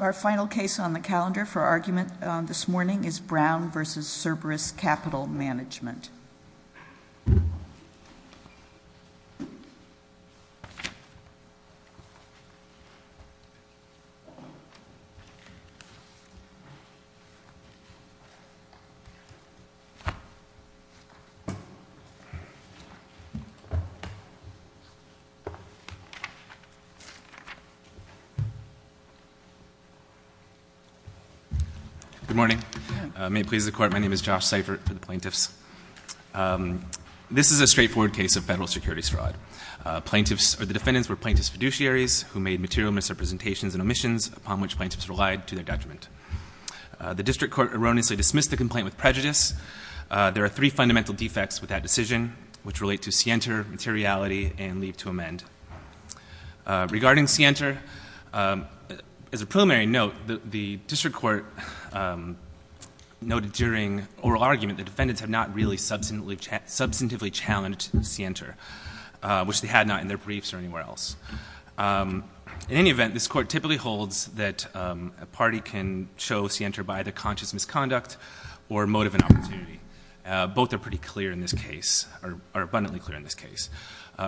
Our final case on the calendar for argument this morning is Brown v. Cerberus Capital Management. Good morning. May it please the Court, my name is Josh Seifert for the plaintiffs. This is a straightforward case of federal securities fraud. The defendants were plaintiff's fiduciaries who made material misrepresentations and omissions upon which plaintiffs relied to their detriment. The district court erroneously dismissed the complaint with prejudice. There are three fundamental defects with that decision, which relate to scienter, materiality, and leave to amend. Regarding scienter, as a preliminary note, the district court noted during oral argument that defendants have not really substantively challenged scienter, which they had not in their briefs or anywhere else. In any event, this court typically holds that a party can show scienter by either conscious misconduct or motive and opportunity. Both are pretty clear in this case, or abundantly clear in this case.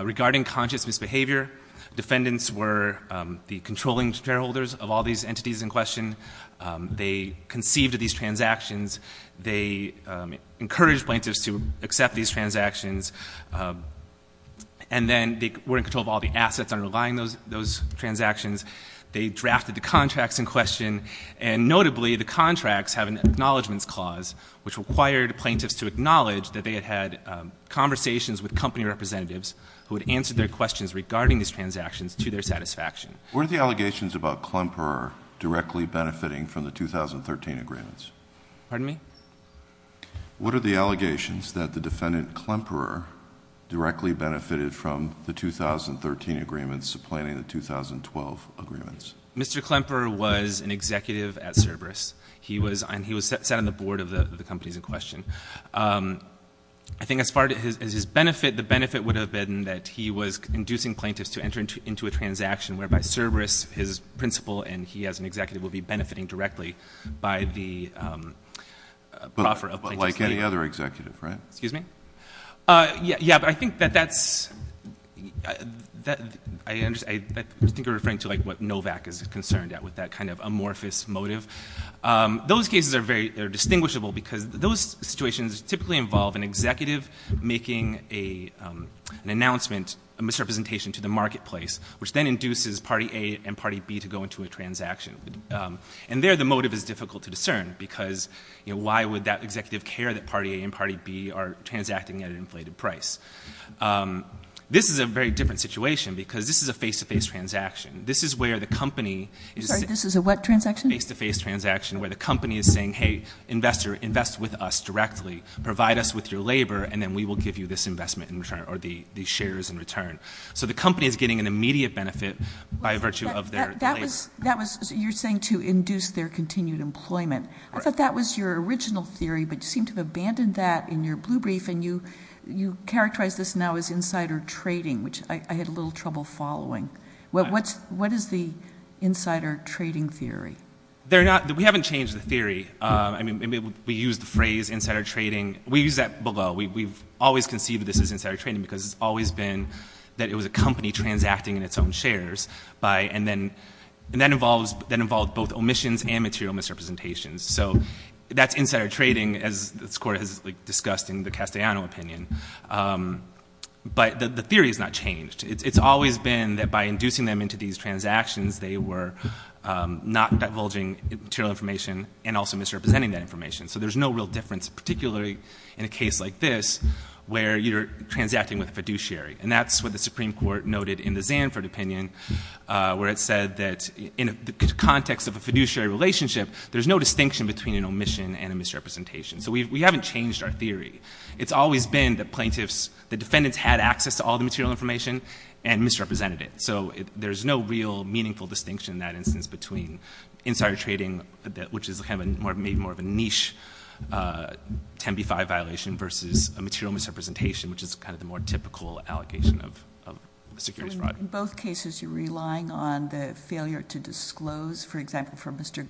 Regarding conscious misbehavior, defendants were the controlling shareholders of all these entities in question. They conceived of these transactions. They encouraged plaintiffs to accept these transactions. And then they were in control of all the assets underlying those transactions. They drafted the contracts in question. And notably, the contracts have an acknowledgments clause, which required plaintiffs to acknowledge that they had had conversations with company representatives who had answered their questions regarding these transactions to their satisfaction. What are the allegations about Klemperer directly benefiting from the 2013 agreements? Pardon me? What are the allegations that the defendant Klemperer directly benefited from the 2013 agreements supplanting the 2012 agreements? Mr. Klemperer was an executive at Cerberus, and he sat on the board of the companies in question. I think as far as his benefit, the benefit would have been that he was inducing plaintiffs to enter into a transaction, whereby Cerberus, his principal, and he as an executive would be benefiting directly by the proffer of plaintiffs. But like any other executive, right? Excuse me? Yeah, but I think that that's – I think you're referring to like what Novak is concerned at with that kind of amorphous motive. Those cases are very – they're distinguishable because those situations typically involve an executive making an announcement, a misrepresentation to the marketplace, which then induces Party A and Party B to go into a transaction. And there the motive is difficult to discern because, you know, why would that executive care that Party A and Party B are transacting at an inflated price? This is a very different situation because this is a face-to-face transaction. This is where the company – Sorry, this is a what transaction? Face-to-face transaction where the company is saying, hey, investor, invest with us directly. Provide us with your labor, and then we will give you this investment in return or these shares in return. So the company is getting an immediate benefit by virtue of their place. That was – you're saying to induce their continued employment. I thought that was your original theory, but you seem to have abandoned that in your blue brief, and you characterize this now as insider trading, which I had a little trouble following. What is the insider trading theory? They're not – we haven't changed the theory. I mean, we use the phrase insider trading. We use that below. We've always conceived of this as insider trading because it's always been that it was a company transacting in its own shares and that involved both omissions and material misrepresentations. So that's insider trading, as this Court has discussed in the Castellano opinion. But the theory has not changed. It's always been that by inducing them into these transactions, they were not divulging material information and also misrepresenting that information. So there's no real difference, particularly in a case like this where you're transacting with a fiduciary. And that's what the Supreme Court noted in the Zanford opinion, where it said that in the context of a fiduciary relationship, there's no distinction between an omission and a misrepresentation. So we haven't changed our theory. It's always been that plaintiffs – that defendants had access to all the material information and misrepresented it. So there's no real meaningful distinction in that instance between insider trading, which is maybe more of a niche 10b-5 violation versus a material misrepresentation, which is kind of the more typical allegation of securities fraud. In both cases, you're relying on the failure to disclose, for example, for Mr.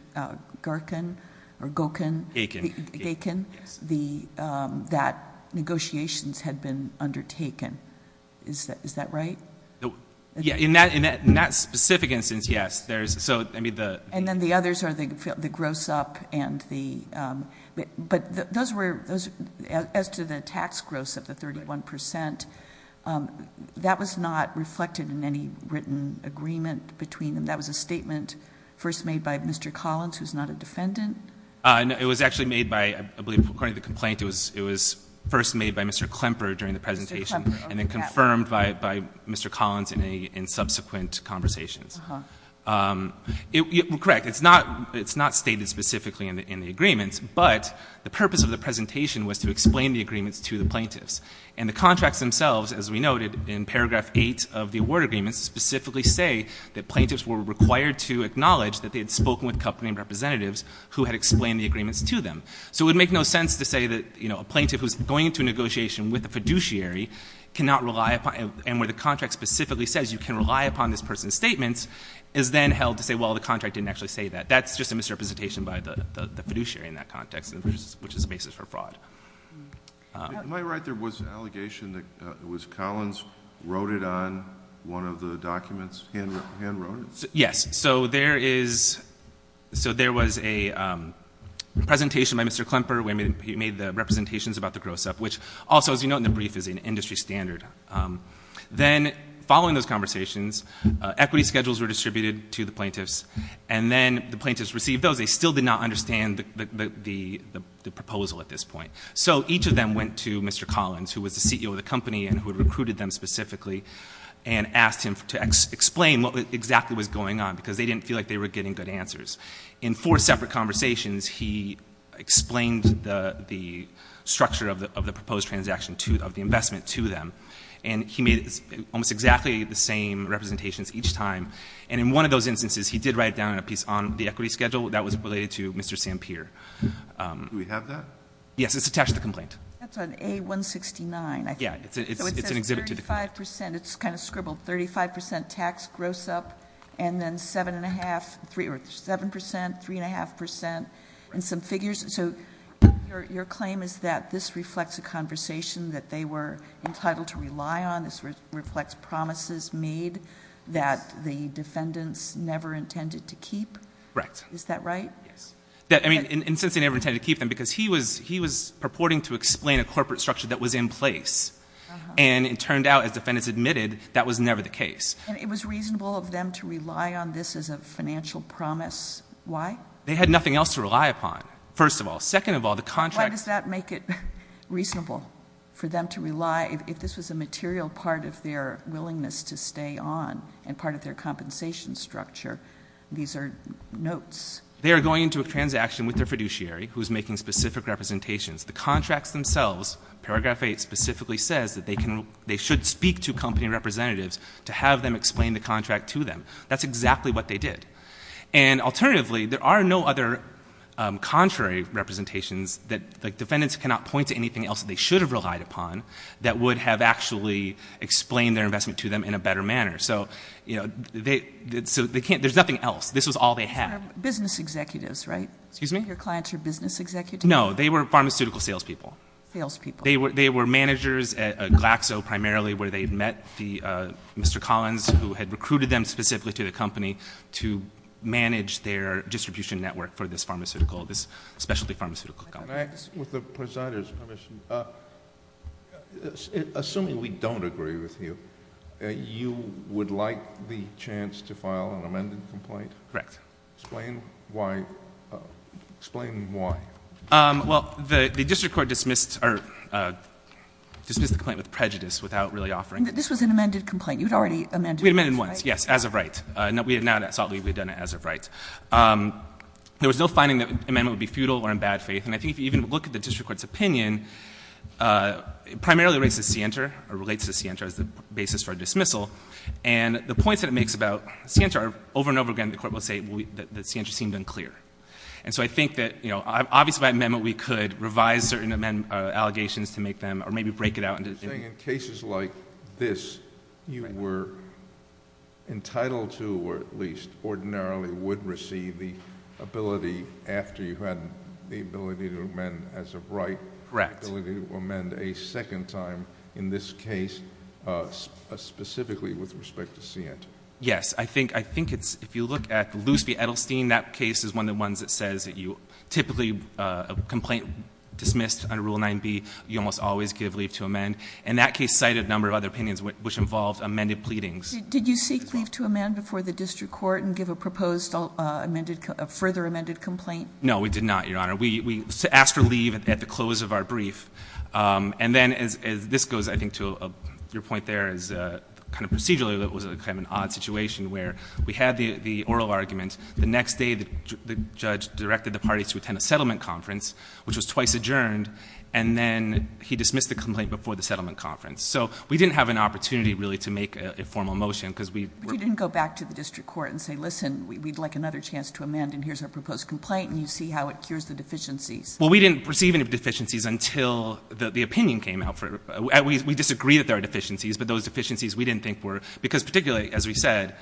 Garkin or Gokin. Gakin. Gakin. Yes. That negotiations had been undertaken. Is that right? In that specific instance, yes. And then the others are the gross up and the – But those were – as to the tax gross of the 31 percent, that was not reflected in any written agreement between them. That was a statement first made by Mr. Collins, who's not a defendant? No. It was actually made by – I believe, according to the complaint, it was first made by Mr. Klemper during the presentation and then confirmed by Mr. Collins in subsequent conversations. Correct. It's not stated specifically in the agreements. But the purpose of the presentation was to explain the agreements to the plaintiffs. And the contracts themselves, as we noted in paragraph 8 of the award agreements, specifically say that plaintiffs were required to acknowledge that they had spoken with company representatives who had explained the agreements to them. So it would make no sense to say that, you know, a plaintiff who's going into a negotiation with a fiduciary cannot rely upon – and where the contract specifically says you can rely upon this person's statements is then held to say, well, the contract didn't actually say that. That's just a misrepresentation by the fiduciary in that context, which is the basis for fraud. Am I right? There was an allegation that it was Collins who wrote it on one of the documents, hand-wrote it? Yes. So there is – so there was a presentation by Mr. Klemper where he made the representations about the gross-up, which also, as you note in the brief, is an industry standard. Then following those conversations, equity schedules were distributed to the plaintiffs, and then the plaintiffs received those. They still did not understand the proposal at this point. So each of them went to Mr. Collins, who was the CEO of the company and who had recruited them specifically, and asked him to explain what exactly was going on because they didn't feel like they were getting good answers. In four separate conversations, he explained the structure of the proposed transaction to – of the investment to them, and he made almost exactly the same representations each time. And in one of those instances, he did write down a piece on the equity schedule that was related to Mr. Sampir. Do we have that? Yes. It's attached to the complaint. That's on A-169, I think. Yeah. It's an exhibit to the complaint. So it says 35 percent. It's kind of scribbled, 35 percent tax gross-up, and then 7.5 percent, 3.5 percent, and some figures. So your claim is that this reflects a conversation that they were entitled to rely on. This reflects promises made that the defendants never intended to keep. Correct. Is that right? Yes. And since they never intended to keep them, because he was purporting to explain a corporate structure that was in place, and it turned out, as defendants admitted, that was never the case. And it was reasonable of them to rely on this as a financial promise. Why? They had nothing else to rely upon, first of all. Second of all, the contract – if this was a material part of their willingness to stay on and part of their compensation structure, these are notes. They are going into a transaction with their fiduciary, who is making specific representations. The contracts themselves, paragraph 8 specifically says that they should speak to company representatives to have them explain the contract to them. That's exactly what they did. And alternatively, there are no other contrary representations that defendants cannot point to anything else that they should have relied upon that would have actually explained their investment to them in a better manner. So they can't – there's nothing else. This was all they had. Business executives, right? Excuse me? Your clients are business executives? No. They were pharmaceutical salespeople. Salespeople. They were managers at Glaxo primarily, where they had met Mr. Collins, who had recruited them specifically to the company to manage their distribution network for this pharmaceutical – this specialty pharmaceutical company. Can I ask, with the presider's permission, assuming we don't agree with you, you would like the chance to file an amended complaint? Correct. Explain why – explain why. Well, the district court dismissed – or dismissed the complaint with prejudice without really offering – This was an amended complaint. You had already amended it, right? We had amended it once, yes, as of right. Now that it's out, we've done it as of right. There was no finding that the amendment would be futile or in bad faith. And I think if you even look at the district court's opinion, it primarily relates to Sienta or relates to Sienta as the basis for dismissal. And the points that it makes about Sienta are over and over again the court will say that Sienta seemed unclear. And so I think that, you know, obviously by amendment we could revise certain allegations to make them – or maybe break it out into – You're saying in cases like this, you were entitled to or at least ordinarily would receive the ability after you had the ability to amend as of right. Correct. The ability to amend a second time in this case specifically with respect to Sienta. Yes. I think it's – if you look at Loose v. Edelstein, that case is one of the ones that says that you typically a complaint dismissed under Rule 9b, you almost always give leave to amend. And that case cited a number of other opinions which involved amended pleadings. Did you seek leave to amend before the district court and give a proposed amended – a further amended complaint? No, we did not, Your Honor. We asked for leave at the close of our brief. And then as this goes, I think, to your point there is kind of procedurally it was kind of an odd situation where we had the oral argument. The next day the judge directed the parties to attend a settlement conference, which was twice adjourned, and then he dismissed the complaint before the settlement conference. So we didn't have an opportunity really to make a formal motion because we were – But you didn't go back to the district court and say, listen, we'd like another chance to amend, and here's our proposed complaint, and you see how it cures the deficiencies. Well, we didn't receive any deficiencies until the opinion came out. We disagree that there are deficiencies, but those deficiencies we didn't think were – because particularly, as we said,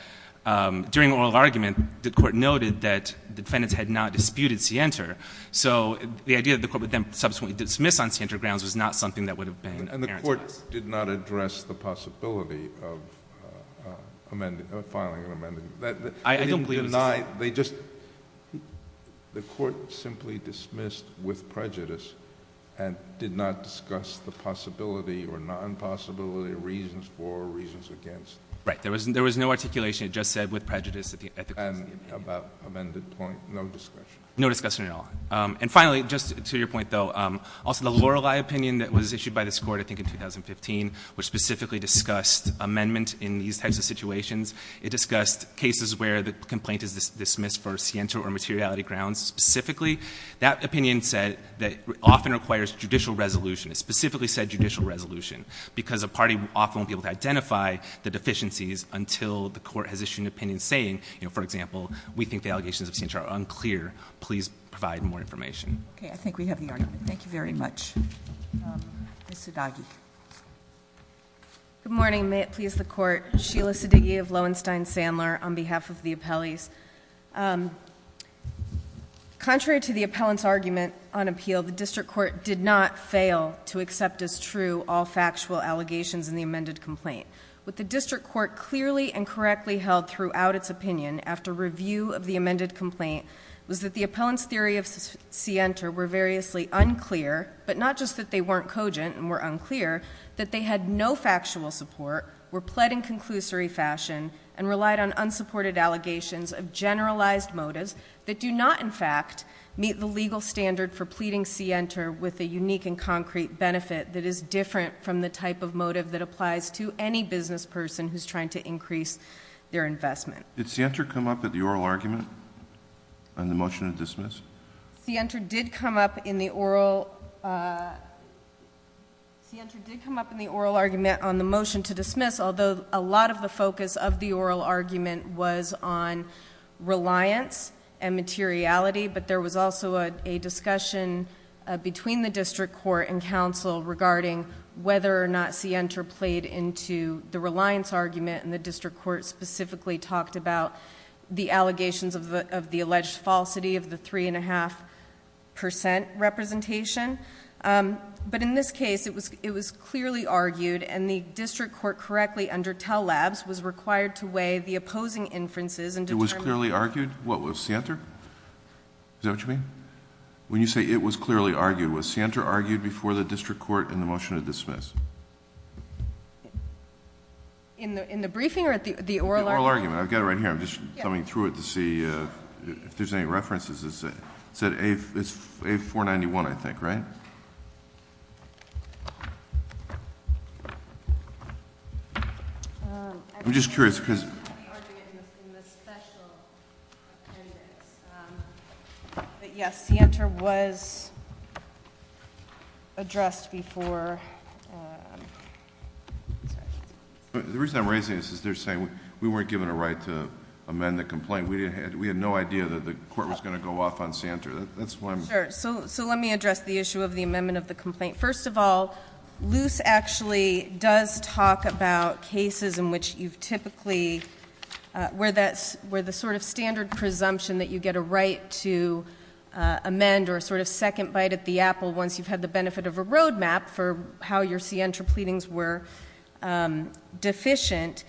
during oral argument the court noted that the defendants had not disputed Sienter. So the idea that the court would then subsequently dismiss on Sienter grounds was not something that would have been parentized. And the court did not address the possibility of filing an amendment. I don't believe it was a – My – they just – the court simply dismissed with prejudice and did not discuss the possibility or non-possibility of reasons for or reasons against. Right. There was no articulation. It just said with prejudice at the – And about amended point, no discussion. No discussion at all. And finally, just to your point, though, also the Lorelei opinion that was issued by this court, I think, in 2015, which specifically discussed amendment in these types of situations, it discussed cases where the complaint is dismissed for Sienter or materiality grounds specifically. That opinion said that often requires judicial resolution. It specifically said judicial resolution because a party often won't be able to identify the deficiencies until the court has issued an opinion saying, you know, for example, we think the allegations of Sienter are unclear. Please provide more information. Okay. I think we have the argument. Thank you very much. Ms. Sudagi. Good morning. May it please the Court. Sheila Sudagi of Lowenstein-Sandler on behalf of the appellees. Contrary to the appellant's argument on appeal, the district court did not fail to accept as true all factual allegations in the amended complaint. What the district court clearly and correctly held throughout its opinion after review of the amended complaint was that the appellant's theory of Sienter were variously unclear, but not just that they weren't cogent and were unclear, that they had no factual support, were pled in conclusory fashion, and relied on unsupported allegations of generalized motives that do not, in fact, meet the legal standard for pleading Sienter with a unique and concrete benefit that is different from the type of motive that applies to any business person who's trying to increase their investment. Did Sienter come up at the oral argument on the motion to dismiss? Sienter did come up in the oral argument on the motion to dismiss, although a lot of the focus of the oral argument was on reliance and materiality, but there was also a discussion between the district court and counsel regarding whether or not Sienter played into the reliance argument, and the district court specifically talked about the allegations of the alleged falsity of the three-and-a-half percent representation. But in this case, it was clearly argued, and the district court correctly, under Tell Labs, was required to weigh the opposing inferences and determine... It was clearly argued? What was Sienter? Is that what you mean? When you say it was clearly argued, was Sienter argued before the district court in the motion to dismiss? In the briefing or at the oral argument? I've got it right here. I'm just thumbing through it to see if there's any references. It's at A491, I think, right? I'm just curious, because... It's in the special appendix. But, yes, Sienter was addressed before... The reason I'm raising this is they're saying we weren't given a right to amend the complaint. We had no idea that the court was going to go off on Sienter. That's why I'm... Sure. So let me address the issue of the amendment of the complaint. First of all, Luce actually does talk about cases in which you've typically... where the sort of standard presumption that you get a right to amend or a sort of second bite at the apple once you've had the benefit of a road map for how your Sienter pleadings were deficient.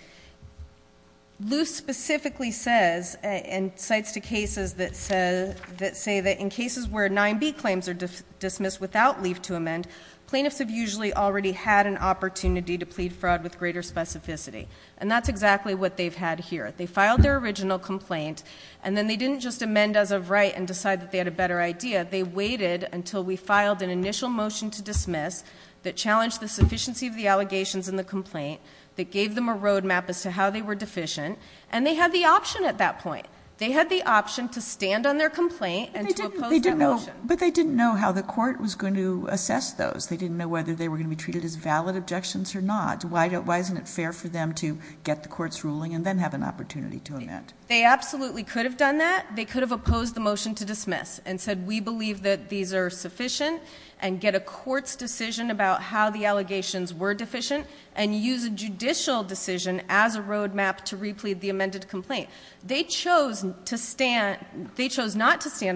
Luce specifically says, and cites to cases that say that in cases where 9B claims are dismissed without leave to amend, plaintiffs have usually already had an opportunity to plead fraud with greater specificity. And that's exactly what they've had here. They filed their original complaint, and then they didn't just amend as of right and decide that they had a better idea. They waited until we filed an initial motion to dismiss that challenged the sufficiency of the allegations in the complaint, that gave them a road map as to how they were deficient, and they had the option at that point. They had the option to stand on their complaint and to oppose that motion. But they didn't know how the court was going to assess those. They didn't know whether they were going to be treated as valid objections or not. Why isn't it fair for them to get the court's ruling and then have an opportunity to amend? They absolutely could have done that. They could have opposed the motion to dismiss and said, we believe that these are sufficient, and get a court's decision about how the allegations were deficient, and use a judicial decision as a road map to replete the amended complaint. They chose not to stand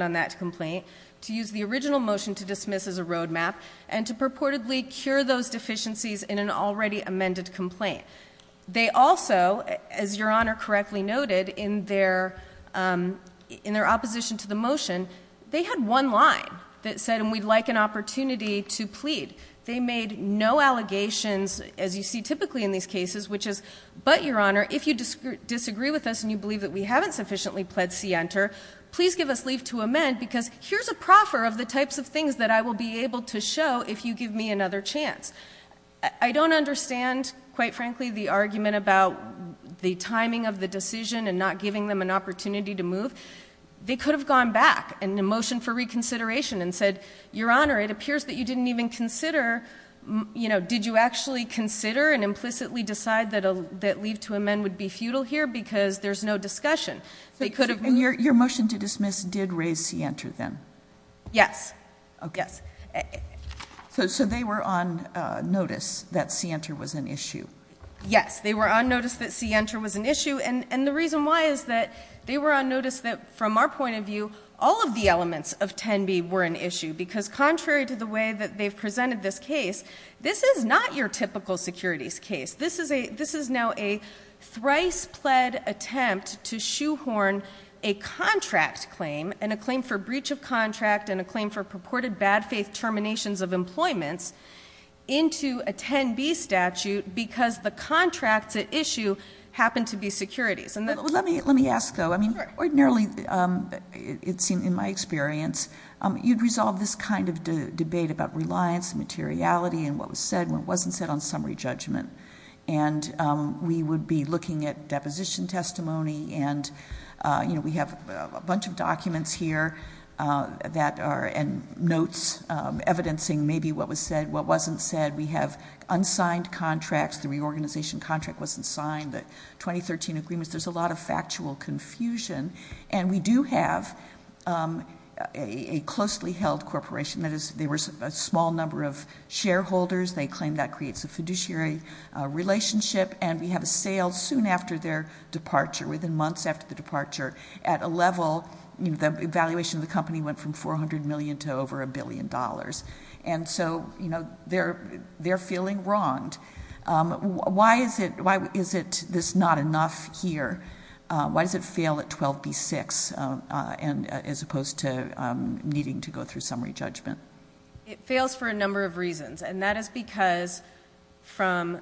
on that complaint, to use the original motion to dismiss as a road map, and to purportedly cure those deficiencies in an already amended complaint. They also, as Your Honor correctly noted, in their opposition to the motion, they had one line that said, and we'd like an opportunity to plead. They made no allegations, as you see typically in these cases, which is, but Your Honor, if you disagree with us and you believe that we haven't sufficiently pled C enter, please give us leave to amend because here's a proffer of the types of things that I will be able to show if you give me another chance. I don't understand, quite frankly, the argument about the timing of the decision and not giving them an opportunity to move. They could have gone back in the motion for reconsideration and said, Your Honor, it appears that you didn't even consider, you know, did you actually consider and implicitly decide that leave to amend would be futile here because there's no discussion. They could have moved. And your motion to dismiss did raise C enter then? Yes. Yes. So they were on notice that C enter was an issue? Yes. They were on notice that C enter was an issue. And the reason why is that they were on notice that from our point of view, all of the elements of 10B were an issue because contrary to the way that they've presented this case, this is not your typical securities case. This is now a thrice pled attempt to shoehorn a contract claim and a claim for breach of contract and a claim for purported bad faith terminations of employments into a 10B statute because the contracts at issue happen to be securities. Let me ask, though. I mean, ordinarily, it seemed in my experience, you'd resolve this kind of debate about reliance and materiality and what was said and what wasn't said on summary judgment. We have a bunch of documents here and notes evidencing maybe what was said, what wasn't said. We have unsigned contracts. The reorganization contract wasn't signed. The 2013 agreements. There's a lot of factual confusion. And we do have a closely held corporation. That is, there was a small number of shareholders. They claim that creates a fiduciary relationship. And we have a sale soon after their departure, within months after the departure, at a level, the evaluation of the company went from $400 million to over $1 billion. And so, you know, they're feeling wronged. Why is it this not enough here? Why does it fail at 12B-6 as opposed to needing to go through summary judgment? It fails for a number of reasons. And that is because from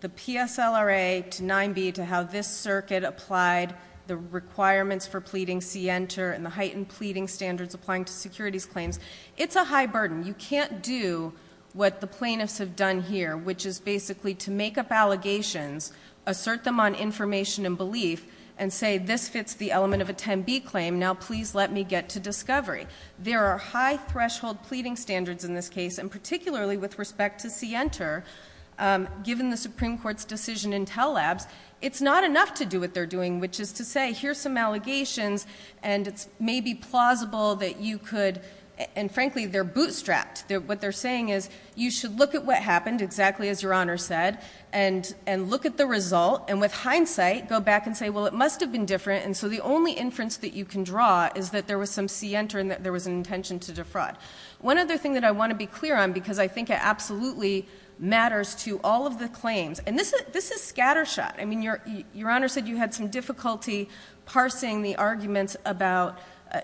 the PSLRA to 9B to how this circuit applied the requirements for pleading, see enter, and the heightened pleading standards applying to securities claims, it's a high burden. You can't do what the plaintiffs have done here, which is basically to make up allegations, assert them on information and belief, and say this fits the element of a 10B claim. Now, please let me get to discovery. There are high threshold pleading standards in this case, and particularly with respect to see enter. Given the Supreme Court's decision in Tell Labs, it's not enough to do what they're doing, which is to say here's some allegations, and it's maybe plausible that you could, and frankly, they're bootstrapped. What they're saying is you should look at what happened, exactly as Your Honor said, and look at the result, and with hindsight, go back and say, well, it must have been different. And so the only inference that you can draw is that there was some see enter and that there was an intention to defraud. One other thing that I want to be clear on, because I think it absolutely matters to all of the claims, and this is scattershot. I mean, Your Honor said you had some difficulty parsing the arguments about,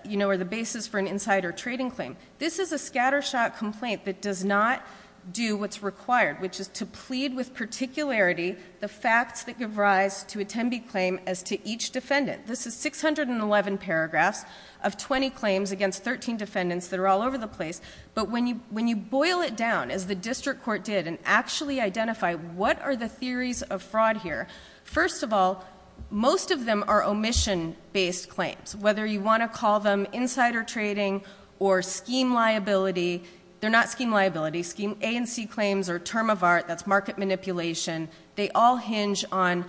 you know, the basis for an insider trading claim. This is a scattershot complaint that does not do what's required, which is to plead with particularity the facts that give rise to a 10B claim as to each defendant. This is 611 paragraphs of 20 claims against 13 defendants that are all over the place. But when you boil it down, as the district court did, and actually identify what are the theories of fraud here, first of all, most of them are omission-based claims, whether you want to call them insider trading or scheme liability. They're not scheme liability. Scheme A and C claims are term of art. That's market manipulation. They all hinge on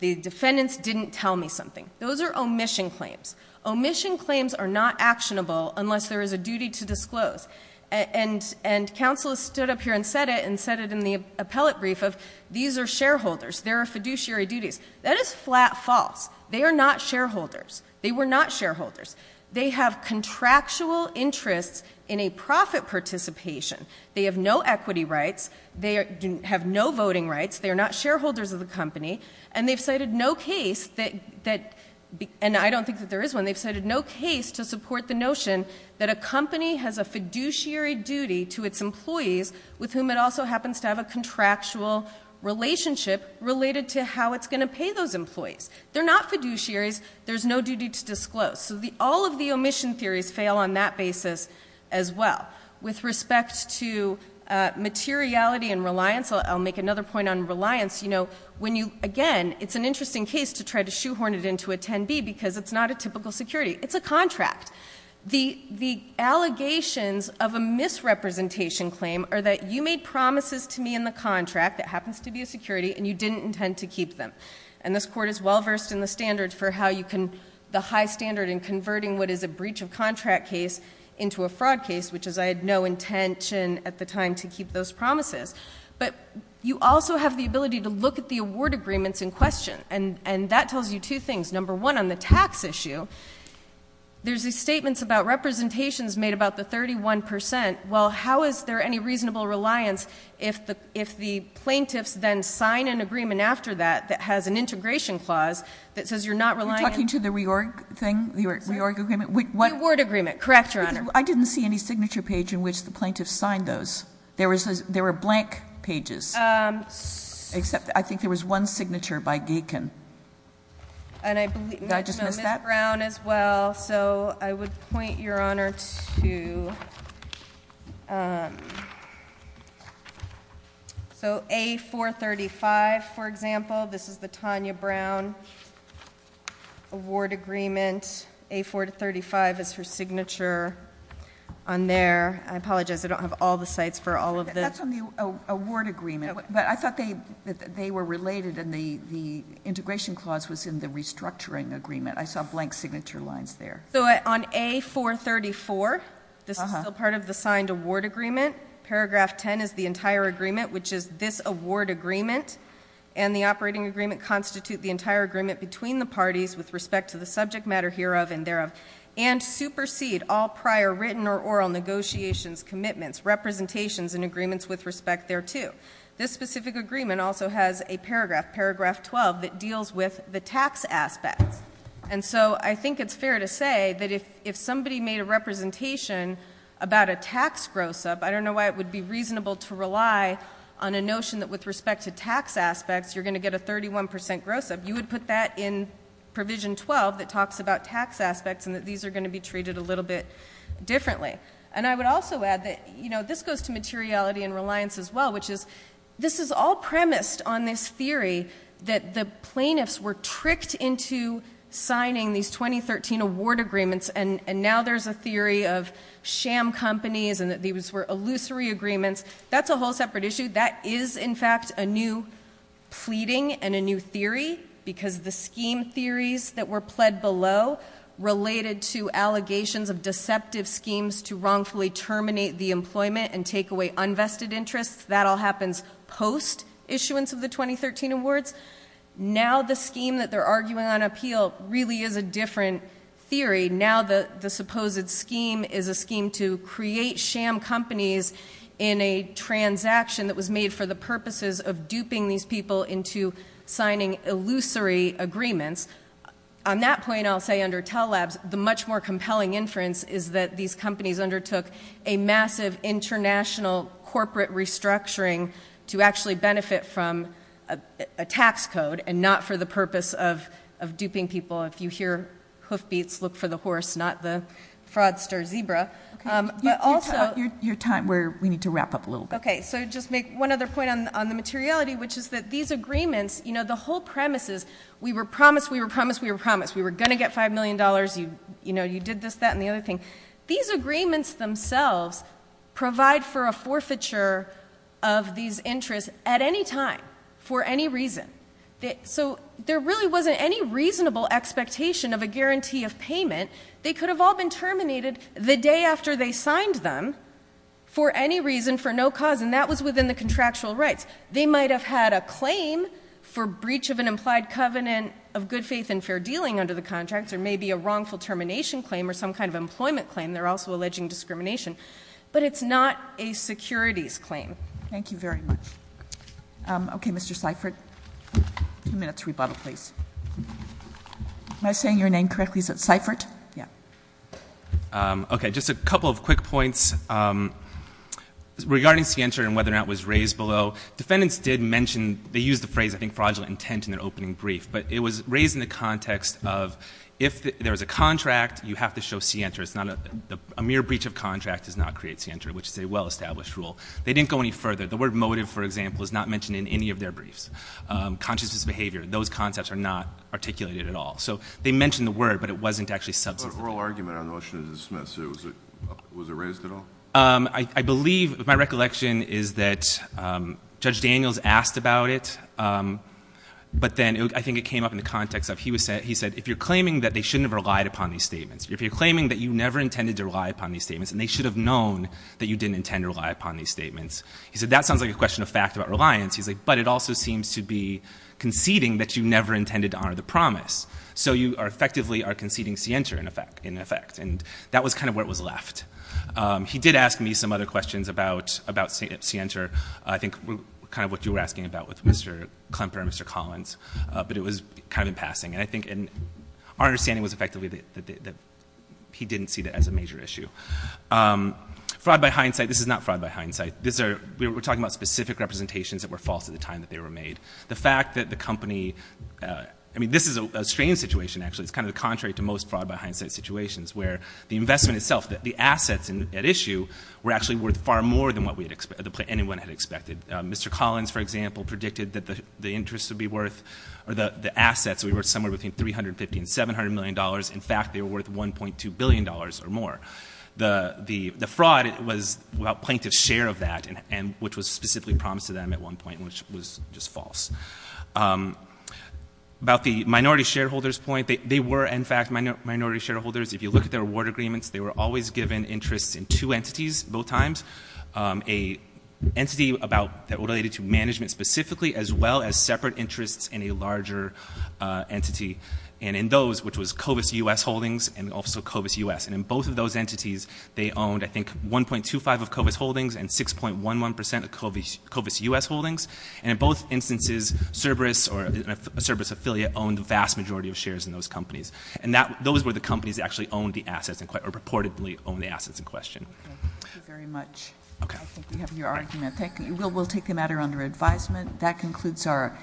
the defendants didn't tell me something. Those are omission claims. Omission claims are not actionable unless there is a duty to disclose. And counsel has stood up here and said it and said it in the appellate brief of these are shareholders. There are fiduciary duties. That is flat false. They are not shareholders. They were not shareholders. They have contractual interests in a profit participation. They have no equity rights. They have no voting rights. They are not shareholders of the company. And they've cited no case that, and I don't think that there is one, they've cited no case to support the notion that a company has a fiduciary duty to its employees with whom it also happens to have a contractual relationship related to how it's going to pay those employees. They're not fiduciaries. There's no duty to disclose. So all of the omission theories fail on that basis as well. With respect to materiality and reliance, I'll make another point on reliance. Again, it's an interesting case to try to shoehorn it into a 10B because it's not a typical security. It's a contract. The allegations of a misrepresentation claim are that you made promises to me in the contract that happens to be a security and you didn't intend to keep them. And this court is well versed in the standards for how you can, the high standard in converting what is a breach of contract case into a fraud case, which is I had no intention at the time to keep those promises. But you also have the ability to look at the award agreements in question. And that tells you two things. Number one, on the tax issue, there's these statements about representations made about the 31%. Well, how is there any reasonable reliance if the plaintiffs then sign an agreement after that that has an integration clause that says you're not relying on? You're talking to the reorg thing, the reorg agreement? The award agreement, correct, Your Honor. I didn't see any signature page in which the plaintiffs signed those. There were blank pages, except I think there was one signature by Gaken. Did I just miss that? And I believe Ms. Brown as well. I would point, Your Honor, to A-435, for example. This is the Tanya Brown award agreement. A-435 is her signature on there. I apologize, I don't have all the sites for all of this. That's on the award agreement. But I thought they were related, and the integration clause was in the restructuring agreement. I saw blank signature lines there. So on A-434, this is still part of the signed award agreement. Paragraph 10 is the entire agreement, which is this award agreement, and the operating agreement constitute the entire agreement between the parties with respect to the subject matter hereof and thereof, and supersede all prior written or oral negotiations, commitments, representations, and agreements with respect thereto. This specific agreement also has a paragraph, paragraph 12, that deals with the tax aspects. And so I think it's fair to say that if somebody made a representation about a tax gross-up, I don't know why it would be reasonable to rely on a notion that with respect to tax aspects, you're going to get a 31% gross-up. You would put that in provision 12 that talks about tax aspects and that these are going to be treated a little bit differently. And I would also add that, you know, this goes to materiality and reliance as well, which is this is all premised on this theory that the plaintiffs were tricked into signing these 2013 award agreements, and now there's a theory of sham companies and that these were illusory agreements. That's a whole separate issue. That is, in fact, a new pleading and a new theory, because the scheme theories that were pled below related to allegations of deceptive schemes to wrongfully terminate the employment and take away unvested interests. That all happens post-issuance of the 2013 awards. Now the scheme that they're arguing on appeal really is a different theory. Now the supposed scheme is a scheme to create sham companies in a transaction that was made for the purposes of duping these people into signing illusory agreements. On that point, I'll say under Tell Labs, the much more compelling inference is that these companies undertook a massive international corporate restructuring to actually benefit from a tax code and not for the purpose of duping people. If you hear hoofbeats, look for the horse, not the fraudster zebra. But also- Your time, we need to wrap up a little bit. Okay, so just make one other point on the materiality, which is that these agreements, you know, the whole premise is we were promised, we were promised, we were promised. We were going to get $5 million. You know, you did this, that, and the other thing. These agreements themselves provide for a forfeiture of these interests at any time for any reason. So there really wasn't any reasonable expectation of a guarantee of payment. They could have all been terminated the day after they signed them for any reason, for no cause, and that was within the contractual rights. They might have had a claim for breach of an implied covenant of good faith and fair dealing under the contracts or maybe a wrongful termination claim or some kind of employment claim. They're also alleging discrimination. But it's not a securities claim. Thank you very much. Okay, Mr. Seifert, two minutes rebuttal, please. Am I saying your name correctly? Is it Seifert? Yeah. Okay, just a couple of quick points regarding scienter and whether or not it was raised below. Defendants did mention, they used the phrase, I think, fraudulent intent in their opening brief, but it was raised in the context of if there was a contract, you have to show scienter. It's not a mere breach of contract does not create scienter, which is a well-established rule. They didn't go any further. The word motive, for example, is not mentioned in any of their briefs. Consciousness behavior, those concepts are not articulated at all. So they mentioned the word, but it wasn't actually substituted. But oral argument on the motion is dismissed. Was it raised at all? I believe my recollection is that Judge Daniels asked about it, but then I think it came up in the context of he said, if you're claiming that they shouldn't have relied upon these statements, if you're claiming that you never intended to rely upon these statements and they should have known that you didn't intend to rely upon these statements, he said, that sounds like a question of fact about reliance. He's like, but it also seems to be conceding that you never intended to honor the promise. So you are effectively are conceding scienter in effect. And that was kind of where it was left. He did ask me some other questions about scienter. I think kind of what you were asking about with Mr. Klemper and Mr. Collins, but it was kind of in passing. And I think our understanding was effectively that he didn't see that as a major issue. Fraud by hindsight, this is not fraud by hindsight. We're talking about specific representations that were false at the time that they were made. The fact that the company, I mean, this is a strange situation, actually. It's kind of the contrary to most fraud by hindsight situations, where the investment itself, the assets at issue were actually worth far more than anyone had expected. Mr. Collins, for example, predicted that the assets would be worth somewhere between $350 and $700 million. In fact, they were worth $1.2 billion or more. The fraud was plaintiff's share of that, which was specifically promised to them at one point, which was just false. About the minority shareholders point, they were, in fact, minority shareholders. If you look at their award agreements, they were always given interests in two entities, both times. An entity that related to management specifically, as well as separate interests in a larger entity. And in those, which was Covis U.S. Holdings and also Covis U.S. And in both of those entities, they owned, I think, 1.25 of Covis Holdings and 6.11% of Covis U.S. Holdings. And in both instances, Cerberus or a Cerberus affiliate owned the vast majority of shares in those companies. And those were the companies that actually owned the assets, or purportedly owned the assets in question. Thank you very much. I think we have your argument. Thank you. We'll take the matter under advisement. That concludes our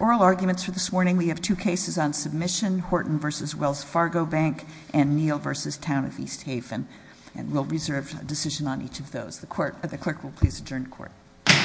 oral arguments for this morning. We have two cases on submission, Horton v. Wells Fargo Bank and Neal v. Town of East Haven. And we'll reserve a decision on each of those. The clerk will please adjourn court. Court is adjourned.